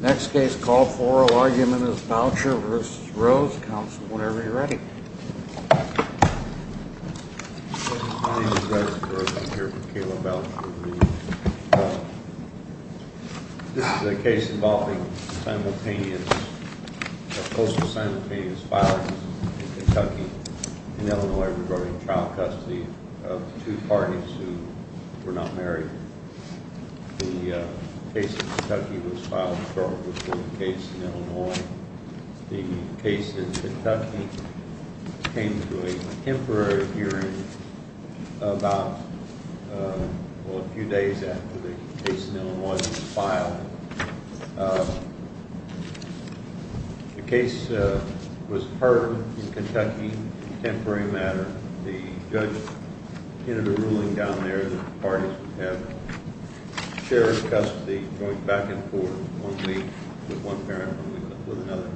Next case called for, argument is Boucher v. Rose. Counsel, whenever you're ready. My name is Russ Rose. I'm here for Kayla Boucher v. Rose. This is a case involving simultaneous, a postal simultaneous filing in Kentucky, in Illinois, regarding child custody of two parties who were not married. The case in Kentucky was filed shortly before the case in Illinois. The case in Kentucky came to a temporary hearing about, well a few days after the case in Illinois was filed. The case was heard in Kentucky in a temporary manner. The judge entered a ruling down there that parties would have shared custody going back and forth, one week with one parent and one week with another.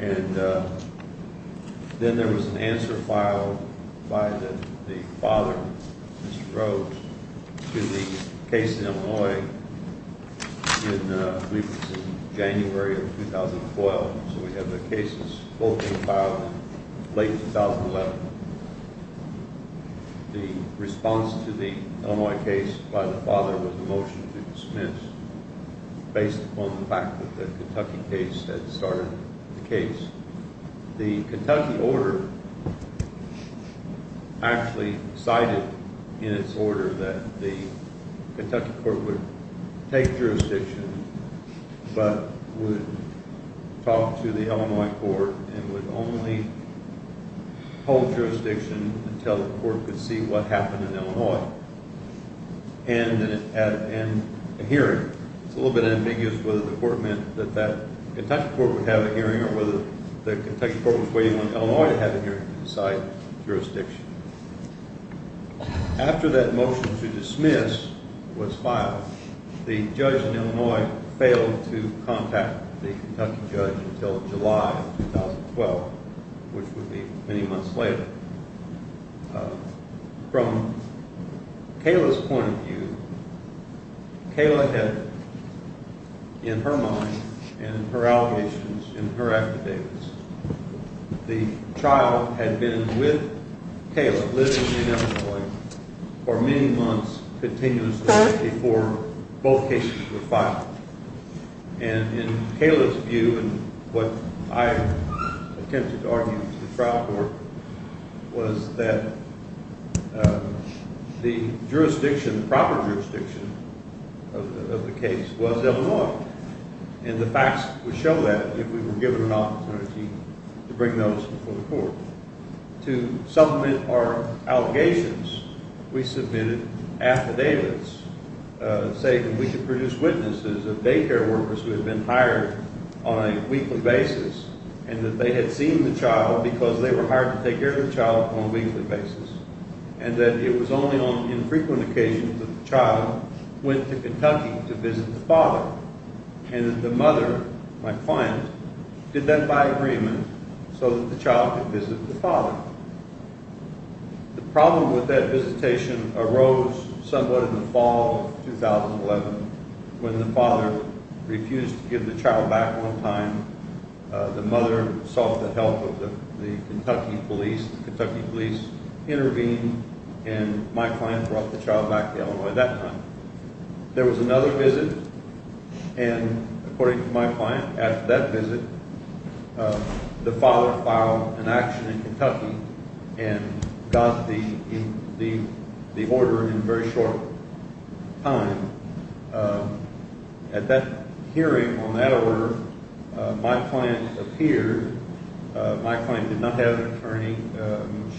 And then there was an answer filed by the father, Mr. Rose, to the case in Illinois in, I believe it was in January of 2012. So we have the cases spoken about in late 2011. The response to the Illinois case by the father was a motion to dispense, based upon the fact that the Kentucky case had started the case. The Kentucky order actually cited in its order that the Kentucky court would take jurisdiction, but would talk to the Illinois court and would only hold jurisdiction until the court could see what happened in Illinois. And a hearing. It's a little bit ambiguous whether the court meant that the Kentucky court would have a hearing or whether the Kentucky court was waiting on Illinois to have a hearing to decide jurisdiction. After that motion to dismiss was filed, the judge in Illinois failed to contact the Kentucky judge until July of 2012, which would be many months later. From Kayla's point of view, Kayla had in her mind and in her allegations, in her affidavits, the trial had been with Kayla, living in Illinois, for many months continuously before both cases were filed. And in Kayla's view, and what I attempted to argue to the trial court, was that the jurisdiction, the proper jurisdiction of the case was Illinois. And the facts would show that if we were given an opportunity to bring those before the court. To supplement our allegations, we submitted affidavits saying that we could produce witnesses of daycare workers who had been hired on a weekly basis and that they had seen the child because they were hired to take care of the child on a weekly basis. And that it was only on infrequent occasions that the child went to Kentucky to visit the father. And that the mother, my client, did that by agreement so that the child could visit the father. The problem with that visitation arose somewhat in the fall of 2011 when the father refused to give the child back one time. The mother sought the help of the Kentucky police. The Kentucky police intervened and my client brought the child back to Illinois that time. There was another visit and according to my client, after that visit, the father filed an action in Kentucky and got the order in a very short time. At that hearing, on that order, my client appeared. My client did not have an attorney.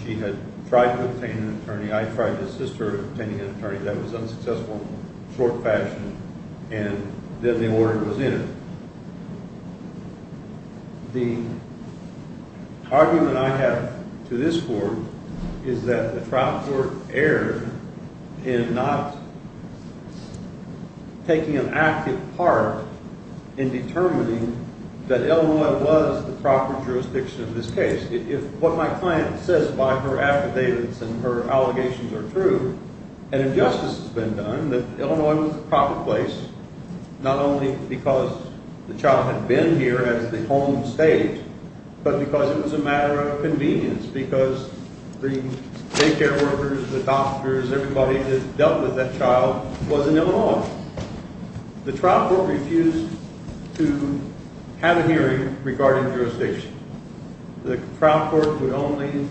She had tried to obtain an attorney. I tried to assist her in obtaining an attorney. That was unsuccessful in a short fashion. And then the order was entered. The argument I have to this court is that the trial court erred in not taking an active part in determining that Illinois was the proper jurisdiction of this case. If what my client says by her affidavits and her allegations are true, an injustice has been done that Illinois was the proper place, not only because the child had been here as the home state, but because it was a matter of convenience. Because the daycare workers, the doctors, everybody that dealt with that child was in Illinois. The trial court refused to have a hearing regarding jurisdiction. The trial court would only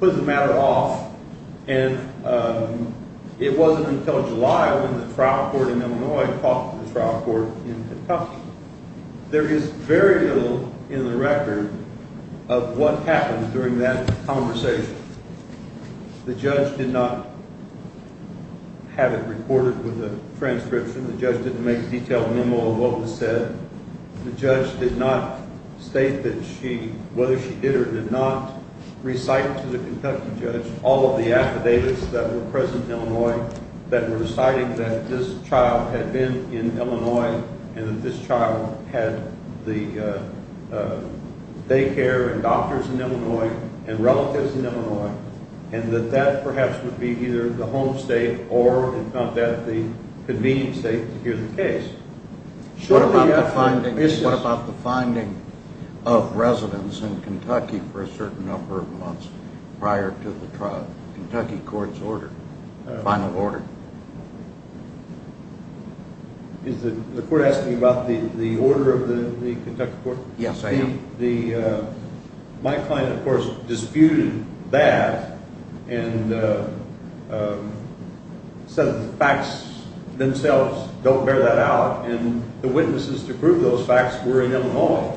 put the matter off and it wasn't until July when the trial court in Illinois talked to the trial court in Kentucky. There is very little in the record of what happened during that conversation. The judge did not have it recorded with a transcription. The judge didn't make a detailed memo of what was said. The judge did not state that she, whether she did or did not, recite to the Kentucky judge all of the affidavits that were present in Illinois that were citing that this child had been in Illinois and that this child had the daycare and doctors in Illinois and relatives in Illinois and that that perhaps would be either the home state or, if not that, the convenient state to hear the case. What about the finding of residents in Kentucky for a certain number of months prior to the Kentucky court's order, final order? Is the court asking about the order of the Kentucky court? Yes, I am. My client, of course, disputed that and said that the facts themselves don't bear that out and the witnesses to prove those facts were in Illinois.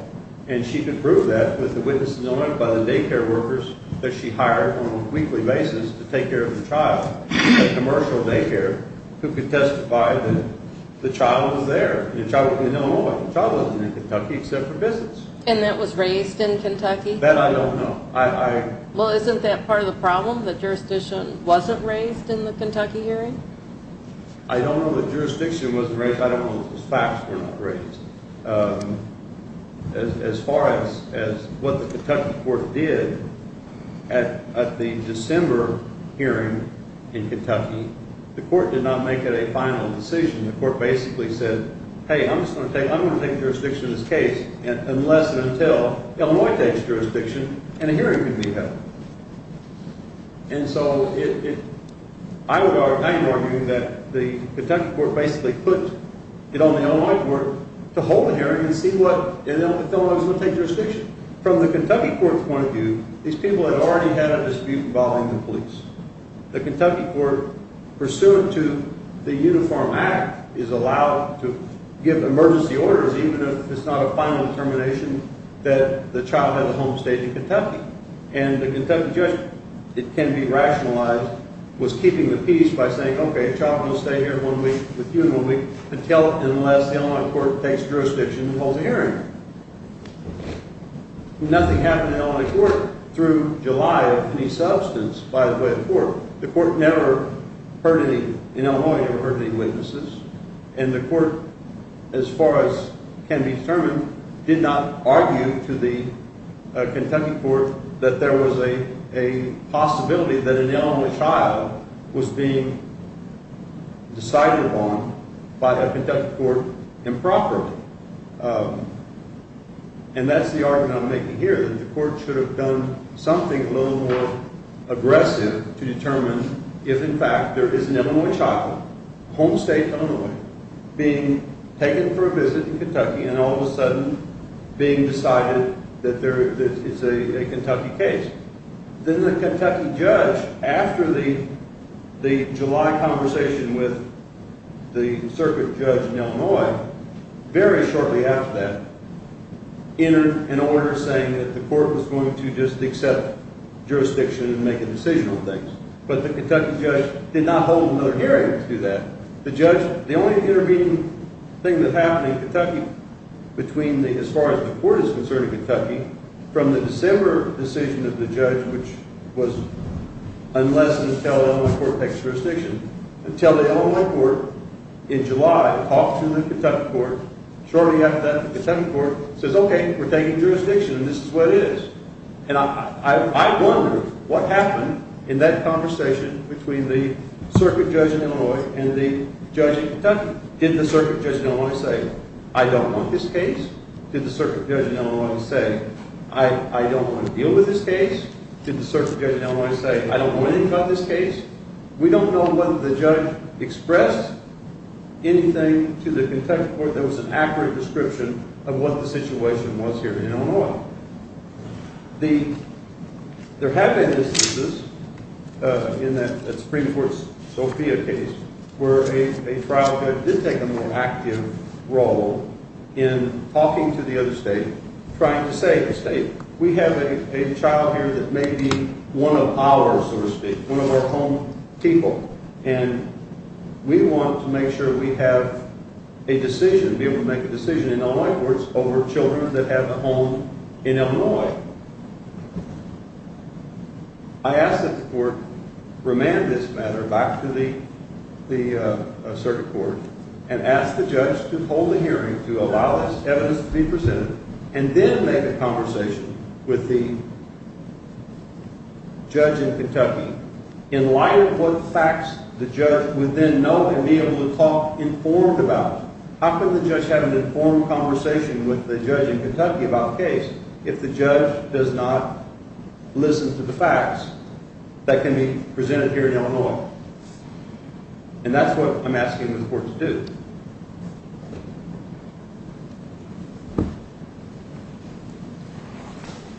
And she could prove that with the witness in Illinois by the daycare workers that she hired on a weekly basis to take care of the child at a commercial daycare who could testify that the child was there. The child was in Illinois. The child wasn't in Kentucky except for business. And that was raised in Kentucky? That I don't know. Well, isn't that part of the problem, that jurisdiction wasn't raised in the Kentucky hearing? I don't know that jurisdiction wasn't raised. I don't know that the facts were not raised. As far as what the Kentucky court did, at the December hearing in Kentucky, the court did not make it a final decision. The court basically said, hey, I'm just going to take jurisdiction in this case unless and until Illinois takes jurisdiction and a hearing can be held. And so I would argue that the Kentucky court basically put it on the Illinois court to hold a hearing and see what, if Illinois was going to take jurisdiction. From the Kentucky court's point of view, these people had already had a dispute involving the police. The Kentucky court, pursuant to the Uniform Act, is allowed to give emergency orders even if it's not a final determination that the child had a home state in Kentucky. And the Kentucky judge, it can be rationalized, was keeping the peace by saying, okay, the child can stay here one week with you until and unless the Illinois court takes jurisdiction and holds a hearing. Nothing happened in the Illinois court through July of any substance, by the way, of the court. The court never heard any – in Illinois, never heard any witnesses. And the court, as far as can be determined, did not argue to the Kentucky court that there was a possibility that an Illinois child was being decided upon by a Kentucky court improperly. And that's the argument I'm making here, that the court should have done something a little more aggressive to determine if, in fact, there is an Illinois child, home state Illinois, being taken for a visit in Kentucky and all of a sudden being decided that it's a Kentucky case. Then the Kentucky judge, after the July conversation with the circuit judge in Illinois, very shortly after that, entered an order saying that the court was going to just accept jurisdiction and make a decision on things. But the Kentucky judge did not hold another hearing to do that. The judge – the only intervening thing that happened in Kentucky between the – as far as the court is concerned in Kentucky, from the December decision of the judge, which was unless and until Illinois court takes jurisdiction, until the Illinois court in July talked to the Kentucky court, shortly after that the Kentucky court says, okay, we're taking jurisdiction and this is what it is. And I wonder what happened in that conversation between the circuit judge in Illinois and the judge in Kentucky. Did the circuit judge in Illinois say, I don't want this case? Did the circuit judge in Illinois say, I don't want to deal with this case? Did the circuit judge in Illinois say, I don't want anything about this case? We don't know whether the judge expressed anything to the Kentucky court that was an accurate description of what the situation was here in Illinois. The – there have been instances in that Supreme Court's Sophia case where a trial judge did take a more active role in talking to the other state, trying to say to the state, we have a child here that may be one of ours, so to speak, one of our home people. And we want to make sure we have a decision, be able to make a decision in Illinois courts over children that have a home in Illinois. I ask that the court remand this matter back to the circuit court and ask the judge to hold a hearing to allow this evidence to be presented and then make a conversation with the judge in Kentucky in light of what facts the judge would then know and be able to talk informed about. How can the judge have an informed conversation with the judge in Kentucky about the case if the judge does not listen to the facts that can be presented here in Illinois? And that's what I'm asking the court to do.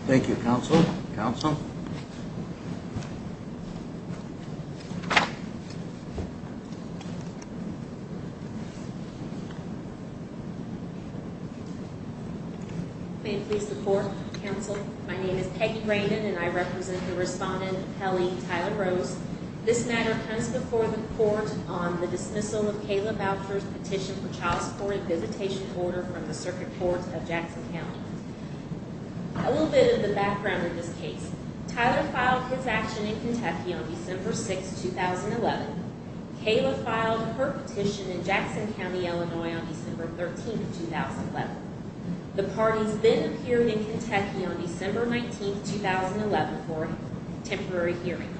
Thank you, counsel. Counsel? May it please the court, counsel. My name is Peggy Raymond, and I represent the respondent, Kelly Tyler Rose. This matter comes before the court on the dismissal of Kayla Boucher's petition for child support and visitation order from the circuit court of Jackson County. A little bit of the background of this case. Tyler filed his action in Kentucky on December 6, 2011. Kayla filed her petition in Jackson County, Illinois on December 13, 2011. The parties then appeared in Kentucky on December 19, 2011 for a temporary hearing.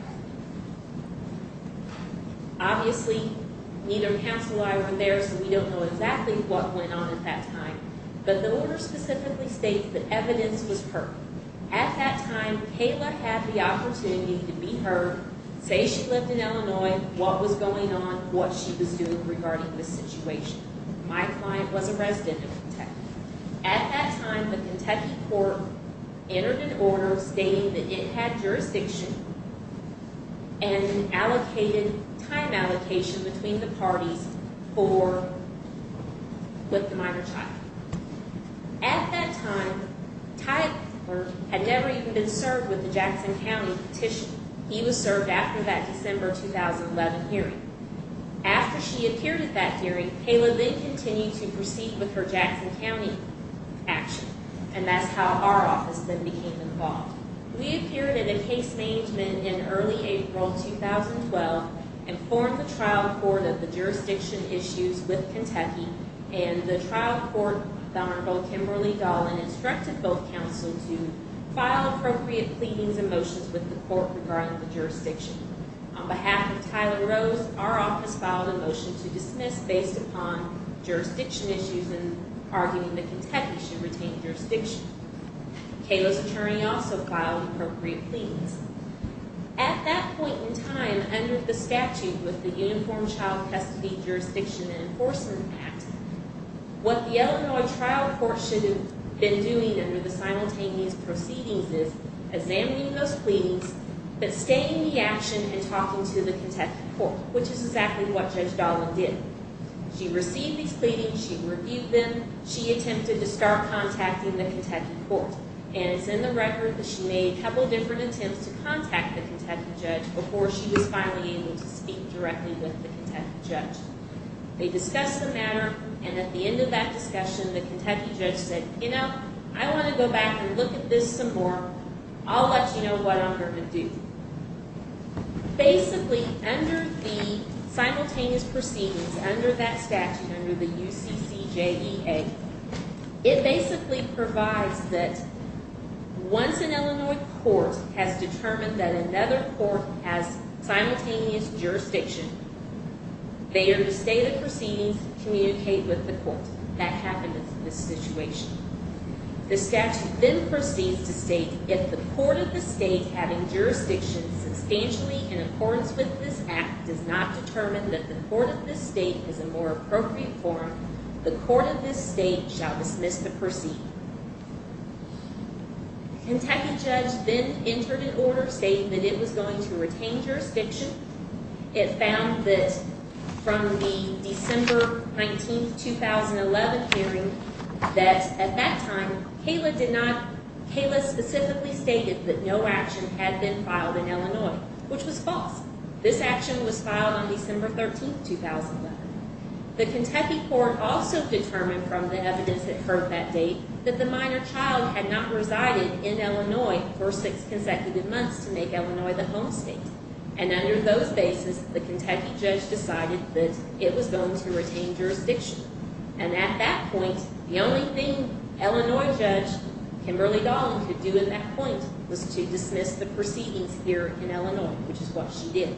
Obviously, neither counsel or I were there, so we don't know exactly what went on at that time. But the order specifically states that evidence was heard. At that time, Kayla had the opportunity to be heard, say she lived in Illinois, what was going on, what she was doing regarding this situation. At that time, the Kentucky court entered an order stating that it had jurisdiction and allocated time allocation between the parties for, with the minor child. At that time, Tyler had never even been served with the Jackson County petition. He was served after that December 2011 hearing. After she appeared at that hearing, Kayla then continued to proceed with her Jackson County action. And that's how our office then became involved. We appeared in a case management in early April 2012, informed the trial court of the jurisdiction issues with Kentucky, and the trial court, the Honorable Kimberly Dolan, instructed both counsels to file appropriate pleadings and motions with the court regarding the jurisdiction. On behalf of Tyler Rose, our office filed a motion to dismiss based upon jurisdiction issues and arguing that Kentucky should retain jurisdiction. Kayla's attorney also filed appropriate pleadings. At that point in time, under the statute with the Uniform Child Pesticide Jurisdiction and Enforcement Act, what the Illinois trial court should have been doing under the simultaneous proceedings is examining those pleadings, but staying in the action and talking to the Kentucky court, which is exactly what Judge Dolan did. She received these pleadings, she reviewed them, she attempted to start contacting the Kentucky court. And it's in the record that she made a couple of different attempts to contact the Kentucky judge before she was finally able to speak directly with the Kentucky judge. They discussed the matter, and at the end of that discussion, the Kentucky judge said, you know, I want to go back and look at this some more. I'll let you know what I'm going to do. Basically, under the simultaneous proceedings, under that statute, under the UCCJEA, it basically provides that once an Illinois court has determined that another court has simultaneous jurisdiction, they are to stay the proceedings, communicate with the court. That happened in this situation. The statute then proceeds to state, if the court of the state having jurisdiction substantially in accordance with this act does not determine that the court of this state is a more appropriate forum, the court of this state shall dismiss the proceeding. Kentucky judge then entered an order stating that it was going to retain jurisdiction. It found that from the December 19, 2011 hearing, that at that time, Kayla specifically stated that no action had been filed in Illinois, which was false. This action was filed on December 13, 2011. The Kentucky court also determined from the evidence it heard that date that the minor child had not resided in Illinois for six consecutive months to make Illinois the home state. And under those bases, the Kentucky judge decided that it was going to retain jurisdiction. And at that point, the only thing Illinois judge Kimberly Dahlin could do at that point was to dismiss the proceedings here in Illinois, which is what she did.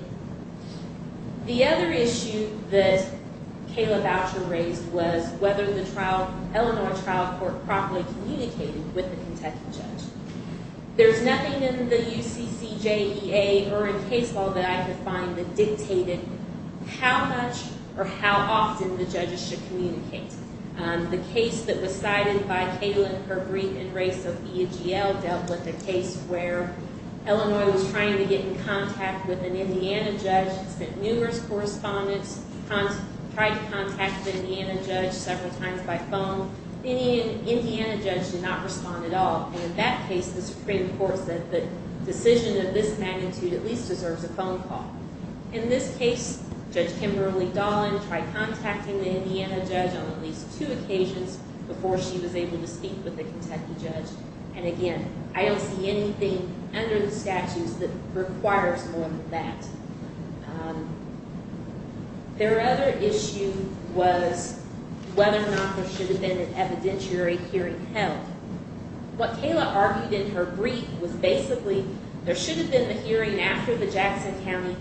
The other issue that Kayla Voucher raised was whether the trial, Illinois trial court, properly communicated with the Kentucky judge. There's nothing in the UCCJEA or in case law that I could find that dictated how much or how often the judges should communicate. The case that was cited by Kayla and her brief and race of EGL dealt with a case where Illinois was trying to get in contact with an Indiana judge, sent numerous correspondence, tried to contact the Indiana judge several times by phone. Any Indiana judge did not respond at all. And in that case, the Supreme Court said the decision of this magnitude at least deserves a phone call. In this case, Judge Kimberly Dahlin tried contacting the Indiana judge on at least two occasions before she was able to speak with the Kentucky judge. And again, I don't see anything under the statutes that requires more than that. Their other issue was whether or not there should have been an evidentiary hearing held. What Kayla argued in her brief was basically there should have been the hearing after the Jackson County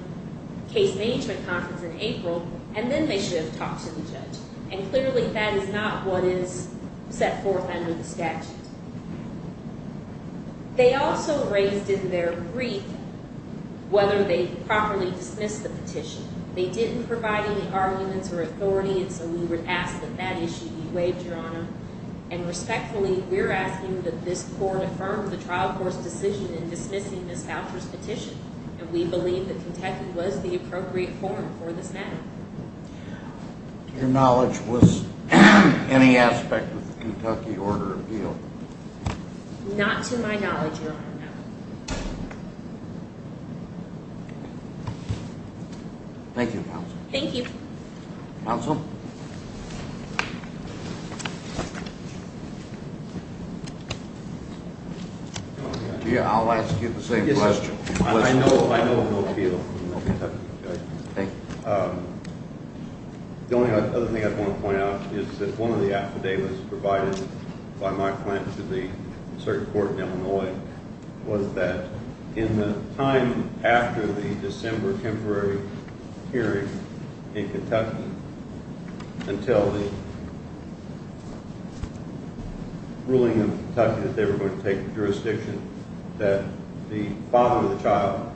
case management conference in April, and then they should have talked to the judge. And clearly that is not what is set forth under the statute. They also raised in their brief whether they properly dismissed the petition. They didn't provide any arguments or authority, and so we would ask that that issue be waived, Your Honor. And respectfully, we're asking that this court affirm the trial court's decision in dismissing Ms. Foucher's petition. And we believe that Kentucky was the appropriate forum for this matter. To your knowledge, was any aspect of the Kentucky order appealed? Not to my knowledge, Your Honor, no. Thank you, counsel. Thank you. Counsel? I'll ask you the same question. I know of no appeal from the Kentucky judge. Okay. The only other thing I want to point out is that one of the affidavits provided by my client to the circuit court in Illinois was that in the time after the December temporary hearing in Kentucky, until the ruling in Kentucky that they were going to take the jurisdiction, that the father of the child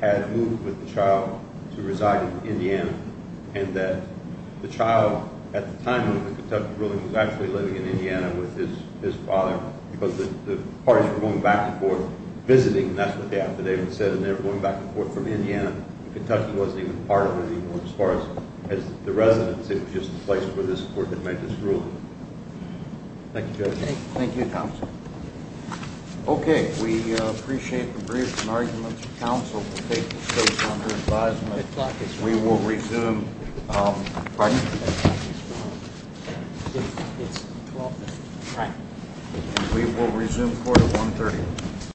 had moved with the child to reside in Indiana, and that the child at the time of the Kentucky ruling was actually living in Indiana with his father because the parties were going back and forth, visiting. And that's what the affidavit said, and they were going back and forth from Indiana. And Kentucky wasn't even part of it anymore as far as the residence. It was just a place where this court had made this ruling. Thank you, Judge. Thank you, counsel. Okay, we appreciate the briefs and arguments. Counsel will take the case under advisement. We will resume. Pardon? We will resume court at 1.30.